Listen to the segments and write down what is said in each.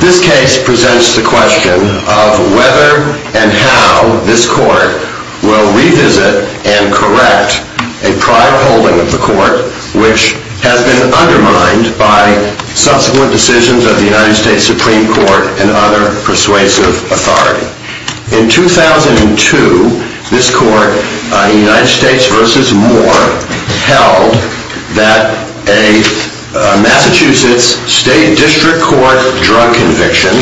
This case presents the question of whether and how this court will revisit and correct a prior holding of the court which has been undermined by subsequent decisions of the United States Supreme Court and other persuasive authority. In 2002, this court, United States v. Moore, held that a Massachusetts State District Court drug conviction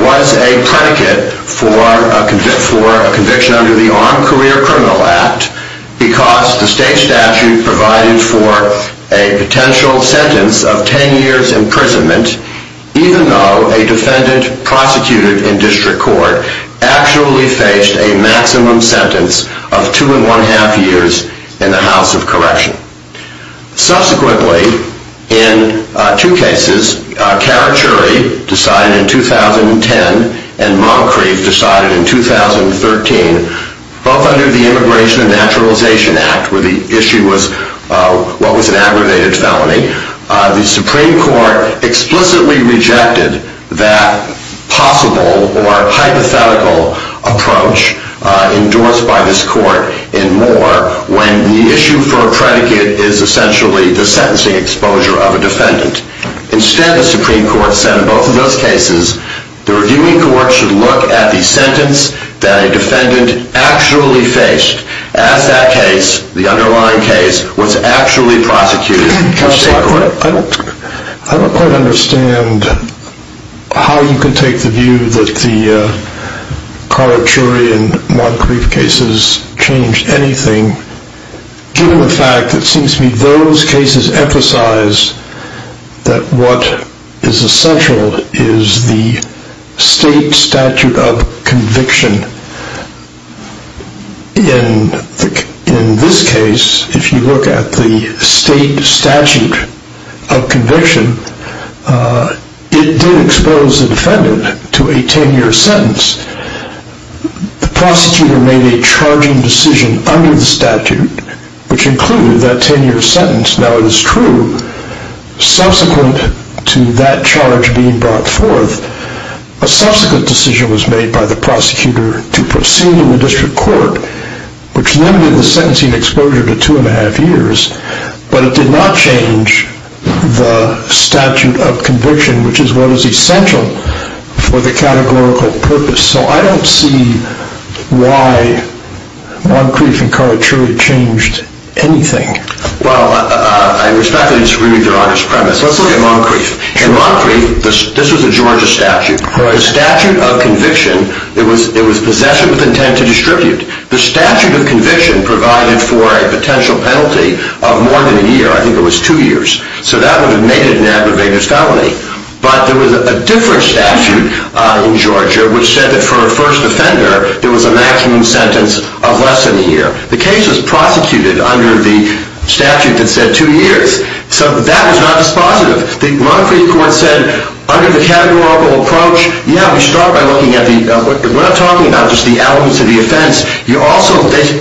was a predicate for a conviction under the Armed Career Criminal Act because the state statute provided for a potential sentence of 10 years' imprisonment even though a defendant prosecuted in district court actually faced a maximum sentence of 2 1⁄2 years in the House of Correction. Subsequently, in two cases, Carachuri decided in 2010 and Moncrief decided in 2013, both under the Immigration and Naturalization Act where the issue was what was an aggravated felony, the Supreme Court explicitly rejected that possible or hypothetical approach endorsed by this court in Moore when the issue for a predicate is essentially the sentencing exposure of a defendant. Instead, the Supreme Court said in both of those cases, the reviewing court should look at the sentence that a defendant actually faced as that case, the underlying case, was actually prosecuted in state court. I don't quite understand how you can take the view that the Carachuri and Moncrief cases changed anything given the fact that it seems to me those cases emphasize that what is essential is the state statute of conviction. In this case, if you look at the state statute of conviction, it did expose the defendant to a 10-year sentence. Subsequent to that charge being brought forth, a subsequent decision was made by the prosecutor to proceed in the district court, which limited the sentencing exposure to 2 1⁄2 years, but it did not change the statute of conviction, which is what is essential for the categorical purpose. So I don't see why Moncrief and Carachuri changed anything. Well, I respect that it's really the wrong premise. Let's look at Moncrief. In Moncrief, this was a Georgia statute. The statute of conviction, it was possession with intent to distribute. The statute of conviction provided for a potential penalty of more than a year. I think it was two years. So that would have made it an aggravated felony. But there was a different statute in Georgia, which said that for a first offender, there was a maximum sentence of less than a year. The case was prosecuted under the statute that said two years. So that was not dispositive. The Moncrief court said, under the categorical approach, yeah, we start by looking at the elements of the offense.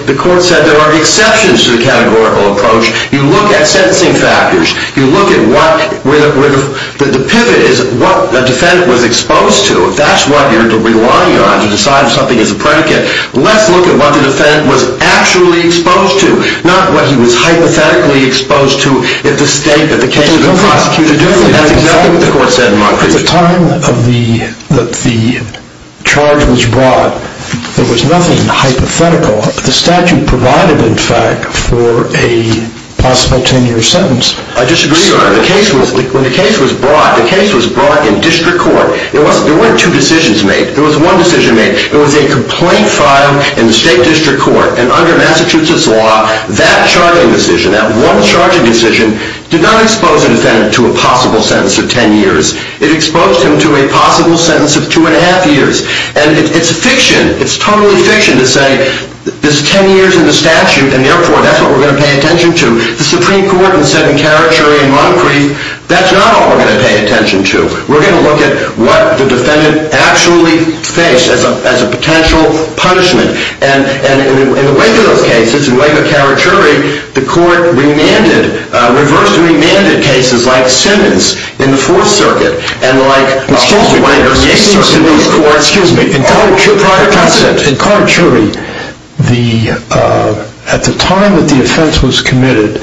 The court said there are exceptions to the categorical approach. You look at sentencing factors. You look at what the pivot is, what the defendant was exposed to. If that's what you're relying on to decide if something is a predicate, let's look at what the defendant was actually exposed to, not what he was hypothetically exposed to if the state that the case had been prosecuted under. That's exactly what the court said in Moncrief. At the time that the charge was brought, there was nothing hypothetical. The statute provided, in fact, for a possible 10-year sentence. I disagree, Your Honor. When the case was brought, the case was brought in district court. There weren't two decisions made. There was one decision made. It was a complaint filed in the state district court. And under Massachusetts law, that charging decision, that one charging decision, did not expose a defendant to a possible sentence of 10 years. It exposed him to a possible sentence of 2 1⁄2 years. And it's fiction. It's totally fiction to say this 10 years in the statute in the airport, that's what we're going to pay attention to. The Supreme Court has said in Karachuri and Moncrief, that's not what we're going to pay attention to. We're going to look at what the defendant actually faced as a potential punishment. And in the wake of those cases, in the wake of Karachuri, the court remanded, reversed and remanded cases like Simmons in the Fourth Circuit and like Holstein. In Karachuri, at the time that the offense was committed,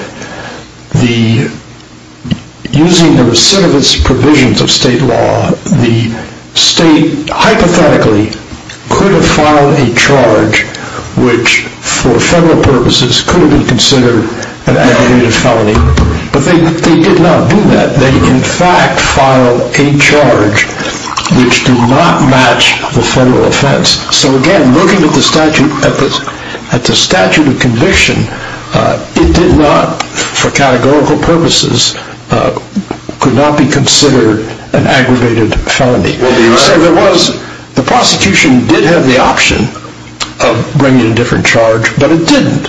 using the recidivist provisions of state law, the state hypothetically could have filed a charge, which for federal purposes could have been considered an aggravated felony. But they did not do that. They in fact filed a charge which did not match the federal offense. So again, looking at the statute of conviction, it did not, for categorical purposes, could not be considered an aggravated felony. So there was, the prosecution did have the option of bringing a different charge, but it didn't.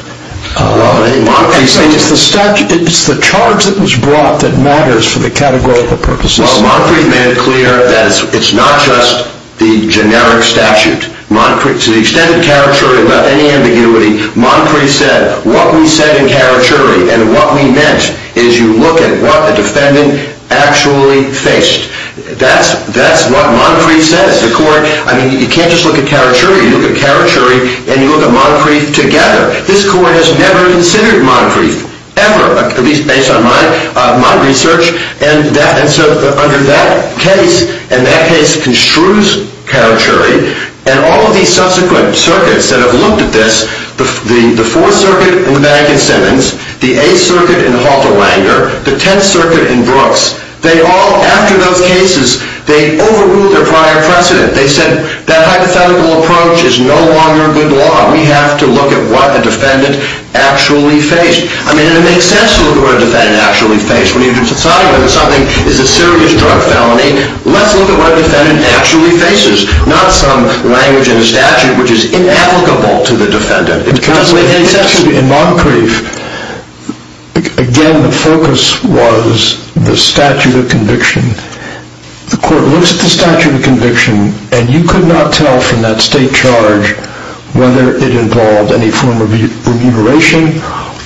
It's the charge that was brought that matters for the categorical purposes. Well, Moncrief made it clear that it's not just the generic statute. To the extent of Karachuri, without any ambiguity, Moncrief said, what we said in Karachuri and what we meant is you look at what the defendant actually faced. That's what Moncrief says. You can't just look at Karachuri. You look at Karachuri and you look at Moncrief together. This court has never considered Moncrief, ever, at least based on my research. And so under that case, and that case construes Karachuri, and all of these subsequent circuits that have looked at this, the Fourth Circuit in the Madigan Sentence, the Eighth Circuit in Halter-Wanger, the Tenth Circuit in Brooks, they all, after those cases, they overruled their prior precedent. They said that hypothetical approach is no longer good law. We have to look at what the defendant actually faced. I mean, it makes sense to look at what a defendant actually faced. When you do a society where something is a serious drug felony, let's look at what a defendant actually faces, not some language in a statute which is inapplicable to the defendant. In Moncrief, again, the focus was the statute of conviction. The court looks at the statute of conviction and you could not tell from that state charge whether it involved any form of remuneration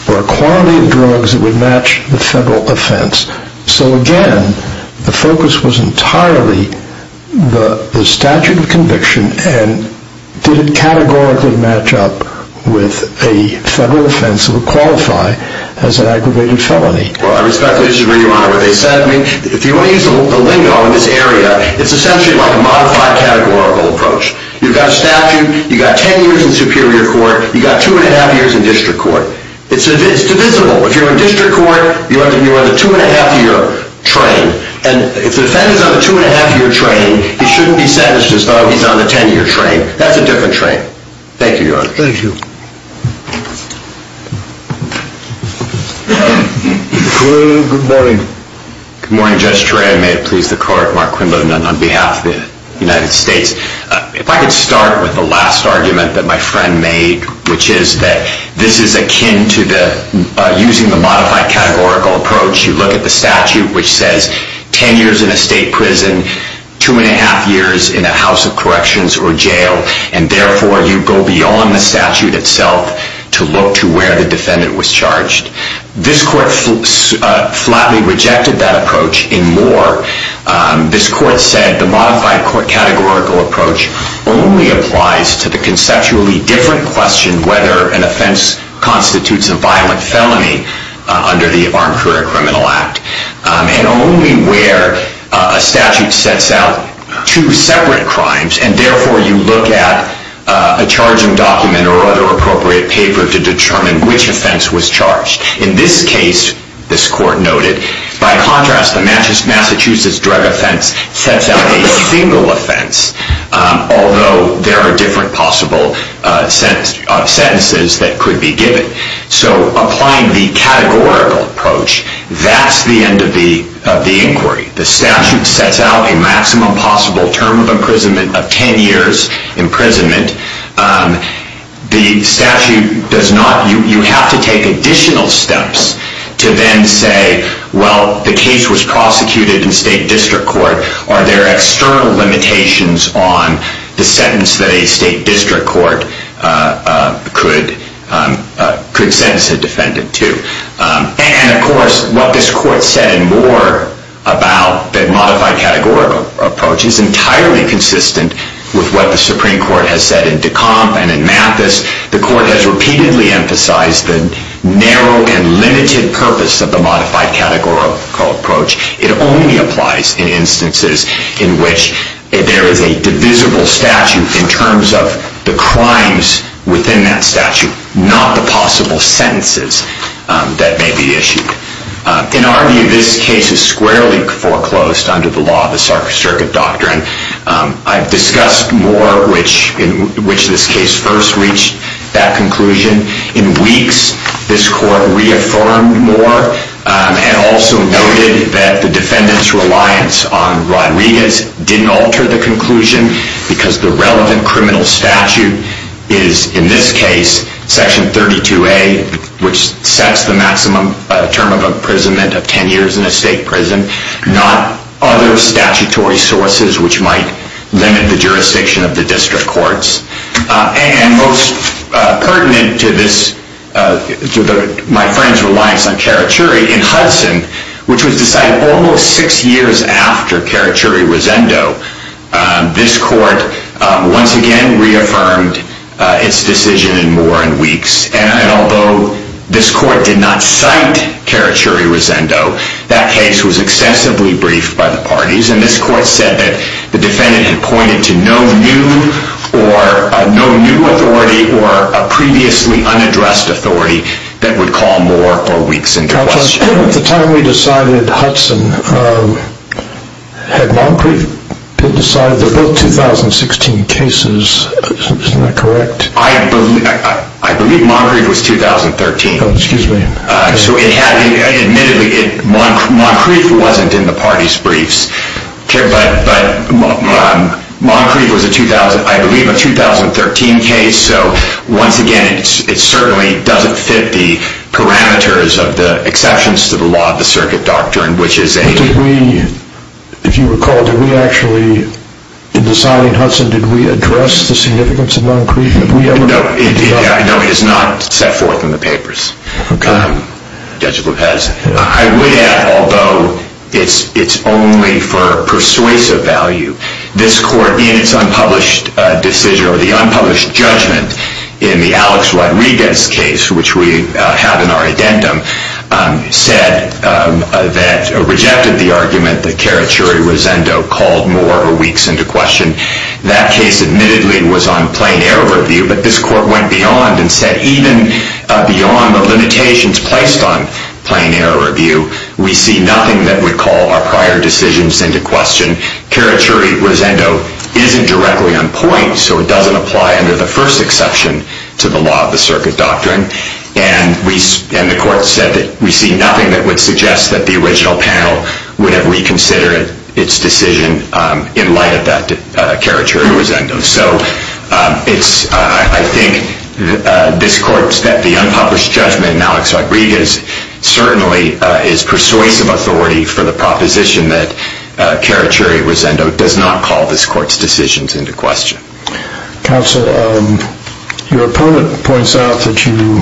or a quantity of drugs that would match the federal offense. So, again, the focus was entirely the statute of conviction and did it categorically match up with a federal offense that would qualify as an aggravated felony. Well, I respectfully disagree, Your Honor, with what they said. I mean, if you want to use a lingo in this area, it's essentially like a modified categorical approach. You've got a statute. You've got 10 years in superior court. You've got 2 1⁄2 years in district court. It's divisible. If you're in district court, you're on the 2 1⁄2-year train. And if the defendant's on the 2 1⁄2-year train, he shouldn't be sentenced as though he's on the 10-year train. That's a different train. Thank you, Your Honor. Thank you. Good morning. Good morning, Judge Trey. May it please the Court. Mark Quindlen on behalf of the United States. If I could start with the last argument that my friend made, which is that this is akin to using the modified categorical approach. You look at the statute, which says 10 years in a state prison, 2 1⁄2 years in a house of corrections or jail, and therefore you go beyond the statute itself to look to where the defendant was charged. This Court flatly rejected that approach in Moore. This Court said the modified court categorical approach only applies to the conceptually different question, whether an offense constitutes a violent felony under the Armed Career Criminal Act, and only where a statute sets out two separate crimes, and therefore you look at a charging document or other appropriate paper to determine which offense was charged. In this case, this Court noted, by contrast, the Massachusetts drug offense sets out a single offense, although there are different possible sentences that could be given. So applying the categorical approach, that's the end of the inquiry. The statute sets out a maximum possible term of imprisonment of 10 years imprisonment. The statute does not, you have to take additional steps to then say, well, the case was prosecuted in state district court. Are there external limitations on the sentence that a state district court could sentence a defendant to? And of course, what this Court said in Moore about the modified categorical approach is entirely consistent with what the Supreme Court has said in Decomp and in Mathis. The Court has repeatedly emphasized the narrow and limited purpose of the modified categorical approach. It only applies in instances in which there is a divisible statute in terms of the crimes within that statute, not the possible sentences that may be issued. In our view, this case is squarely foreclosed under the law of the Circuit Doctrine. I've discussed Moore, in which this case first reached that conclusion. In weeks, this Court reaffirmed Moore and also noted that the defendant's reliance on Rodriguez didn't alter the conclusion because the relevant criminal statute is, in this case, Section 32A, which sets the maximum term of imprisonment of 10 years in a state prison, not other statutory sources which might limit the jurisdiction of the district courts. And most pertinent to my friend's reliance on Karachuri in Hudson, which was decided almost six years after Karachuri-Rosendo, this Court once again reaffirmed its decision in Moore in weeks. And although this Court did not cite Karachuri-Rosendo, that case was extensively briefed by the parties, and this Court said that the defendant had pointed to no new authority or a previously unaddressed authority that would call Moore or Weeks into question. At the time we decided Hudson, had Moncrief been decided? They're both 2016 cases, isn't that correct? I believe Moncrief was 2013. Oh, excuse me. So admittedly, Moncrief wasn't in the parties' briefs. But Moncrief was, I believe, a 2013 case, so once again it certainly doesn't fit the parameters of the exceptions to the law of the circuit doctrine, which is a... But did we, if you recall, did we actually, in deciding Hudson, did we address the significance of Moncrief? No, it is not set forth in the papers, Judge Lopez. I would add, although it's only for persuasive value, this Court, in its unpublished decision or the unpublished judgment in the Alex Rodriguez case, which we have in our addendum, said that, rejected the argument that Karachuri-Rosendo called Moore or Weeks into question. That case, admittedly, was on plain error review, but this Court went beyond and said even beyond the limitations placed on plain error review, we see nothing that would call our prior decisions into question. Karachuri-Rosendo isn't directly on point, so it doesn't apply under the first exception to the law of the circuit doctrine, and the Court said that we see nothing that would suggest that the original panel would have reconsidered its decision in light of that Karachuri-Rosendo. So, I think this Court, the unpublished judgment in Alex Rodriguez, certainly is persuasive authority for the proposition that Karachuri-Rosendo does not call this Court's decisions into question. Counsel, your opponent points out that you,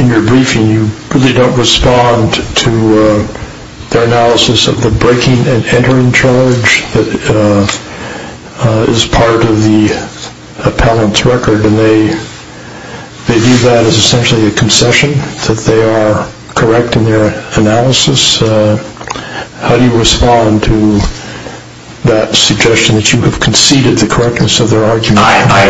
in your briefing, you really don't respond to their analysis of the breaking and entering charge that is part of the appellant's record, and they view that as essentially a concession that they are correct in their analysis. How do you respond to that suggestion that you have conceded the correctness of their argument?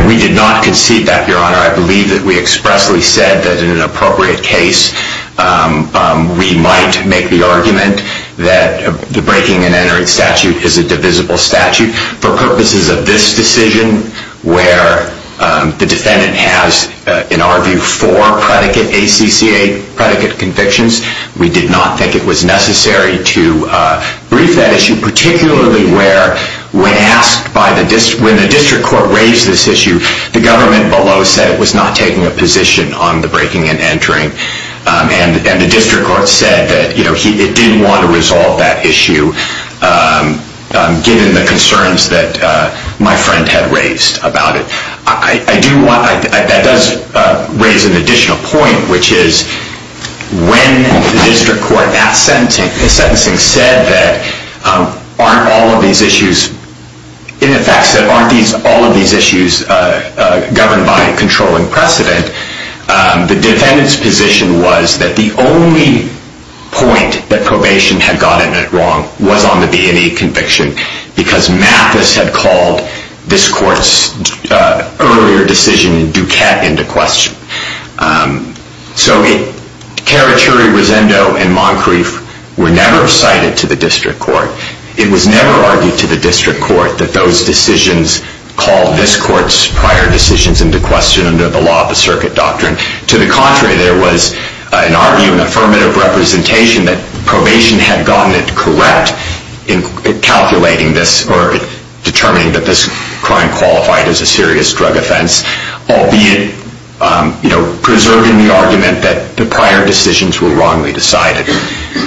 We did not concede that, Your Honor. I believe that we expressly said that in an appropriate case, we might make the argument that the breaking and entering statute is a divisible statute. For purposes of this decision, where the defendant has, in our view, four predicate ACC8 predicate convictions, we did not think it was necessary to brief that issue, particularly where, when asked by the district, when the district court raised this issue, the government below said it was not taking a position on the breaking and entering, and the district court said that, you know, it didn't want to resolve that issue, given the concerns that my friend had raised about it. That does raise an additional point, which is when the district court in that sentencing said that aren't all of these issues, in effect, said aren't all of these issues governed by a controlling precedent, the defendant's position was that the only point that probation had gotten it wrong was on the B&A conviction, because Mathis had called this court's earlier decision in Duquette into question. So Caraturi, Rosendo, and Moncrief were never cited to the district court. It was never argued to the district court that those decisions called this court's prior decisions into question under the law of the circuit doctrine. To the contrary, there was, in our view, an affirmative representation that probation had gotten it correct in calculating this or determining that this crime qualified as a serious drug offense, albeit preserving the argument that the prior decisions were wrongly decided.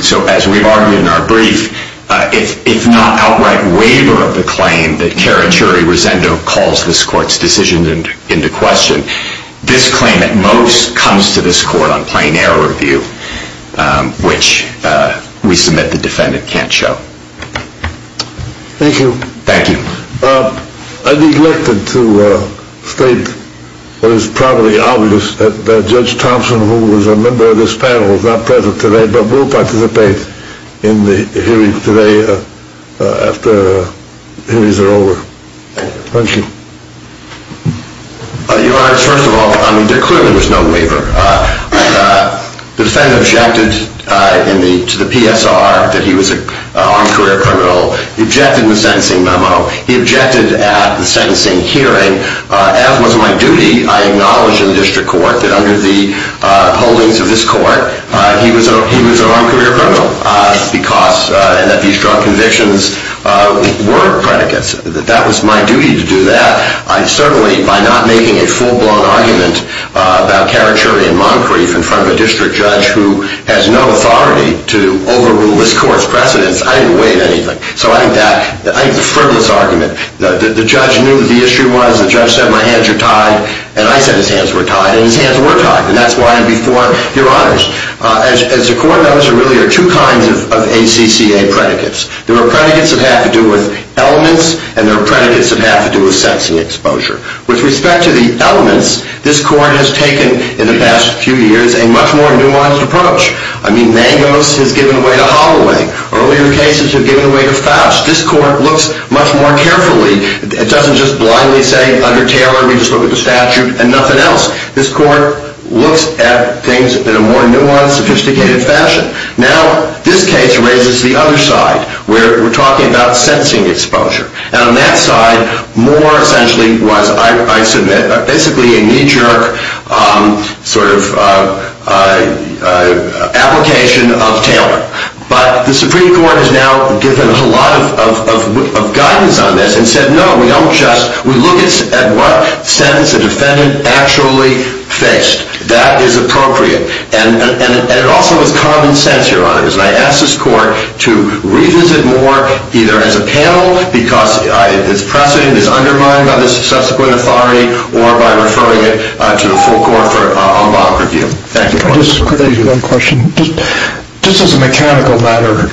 So as we've argued in our brief, if not outright waiver of the claim that Caraturi, Rosendo, calls this court's decision into question, this claim at most comes to this court on plain error review, which we submit the defendant can't show. Thank you. Thank you. I neglected to state that it's probably obvious that Judge Thompson, who was a member of this panel, is not present today, but will participate in the hearing today after hearings are over. Thank you. Your Honor, first of all, there clearly was no waiver. The defendant objected to the PSR that he was an armed career criminal. He objected to the sentencing memo. He objected at the sentencing hearing. As was my duty, I acknowledge in the district court that under the holdings of this court, he was an armed career criminal because these drug convictions were predicates. That was my duty to do that. Certainly, by not making a full-blown argument about Caraturi and Moncrief in front of a district judge who has no authority to overrule this court's precedence, I didn't weigh in anything. So I think that's a frivolous argument. The judge knew what the issue was. The judge said, my hands are tied. And I said, his hands were tied. And his hands were tied. And that's why I'm before your honors. As the court knows, there really are two kinds of ACCA predicates. There are predicates that have to do with elements, and there are predicates that have to do with sense and exposure. With respect to the elements, this court has taken, in the past few years, a much more nuanced approach. I mean, Mangos has given way to Holloway. Earlier cases have given way to Faust. This court looks much more carefully. It doesn't just blindly say, under Taylor, we just look at the statute and nothing else. This court looks at things in a more nuanced, sophisticated fashion. Now, this case raises the other side, where we're talking about sensing exposure. And on that side, Moore essentially was, I submit, basically a knee-jerk sort of application of Taylor. But the Supreme Court has now given a lot of guidance on this and said, no, we don't just. We look at what sentence the defendant actually faced. That is appropriate. And it also is common sense, your honors. And I ask this court to revisit Moore either as a panel, because its precedent is undermined by the subsequent authority, or by referring it to the full court for a long review. Thank you. Just one question. Just as a mechanical matter,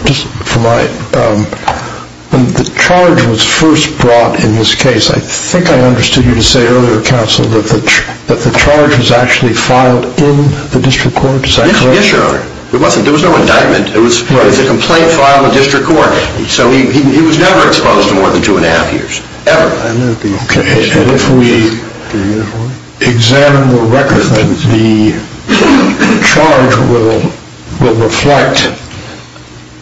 when the charge was first brought in this case, I think I understood you to say earlier, counsel, that the charge was actually filed in the district court. Is that correct? Yes, your honor. It wasn't. There was no indictment. It was a complaint filed in the district court. So he was never exposed to more than two and a half years, ever. And if we examine the record, then the charge will reflect.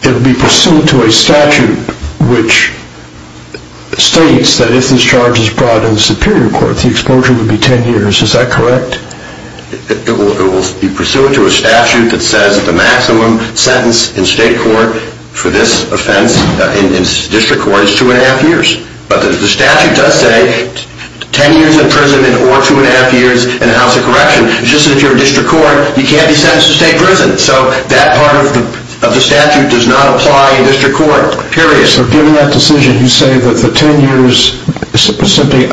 It will be pursuant to a statute which states that if this charge is brought in the superior court, the exposure would be 10 years. Is that correct? It will be pursuant to a statute that says the maximum sentence in state court for this offense in district court is two and a half years. But the statute does say 10 years in prison or two and a half years in a house of correction. It's just that if you're in district court, you can't be sentenced to stay in prison. So that part of the statute does not apply in district court. Period. So given that decision, you say that the 10 years simply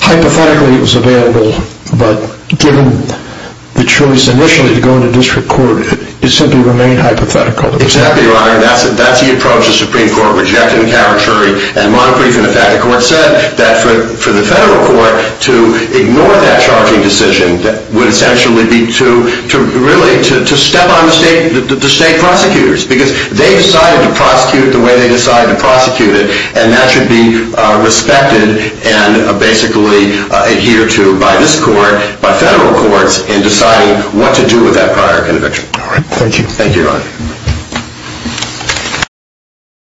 hypothetically was available, but given the choice initially to go into district court, it simply remained hypothetical. Exactly, your honor. That's the approach the Supreme Court rejected in caretory. And my briefing, in fact, the court said that for the federal court to ignore that charging decision would essentially be to really step on the state prosecutors because they decided to prosecute the way they decided to prosecute it, and that should be respected and basically adhered to by this court, by federal courts, in deciding what to do with that prior conviction. All right. Thank you. Thank you, your honor.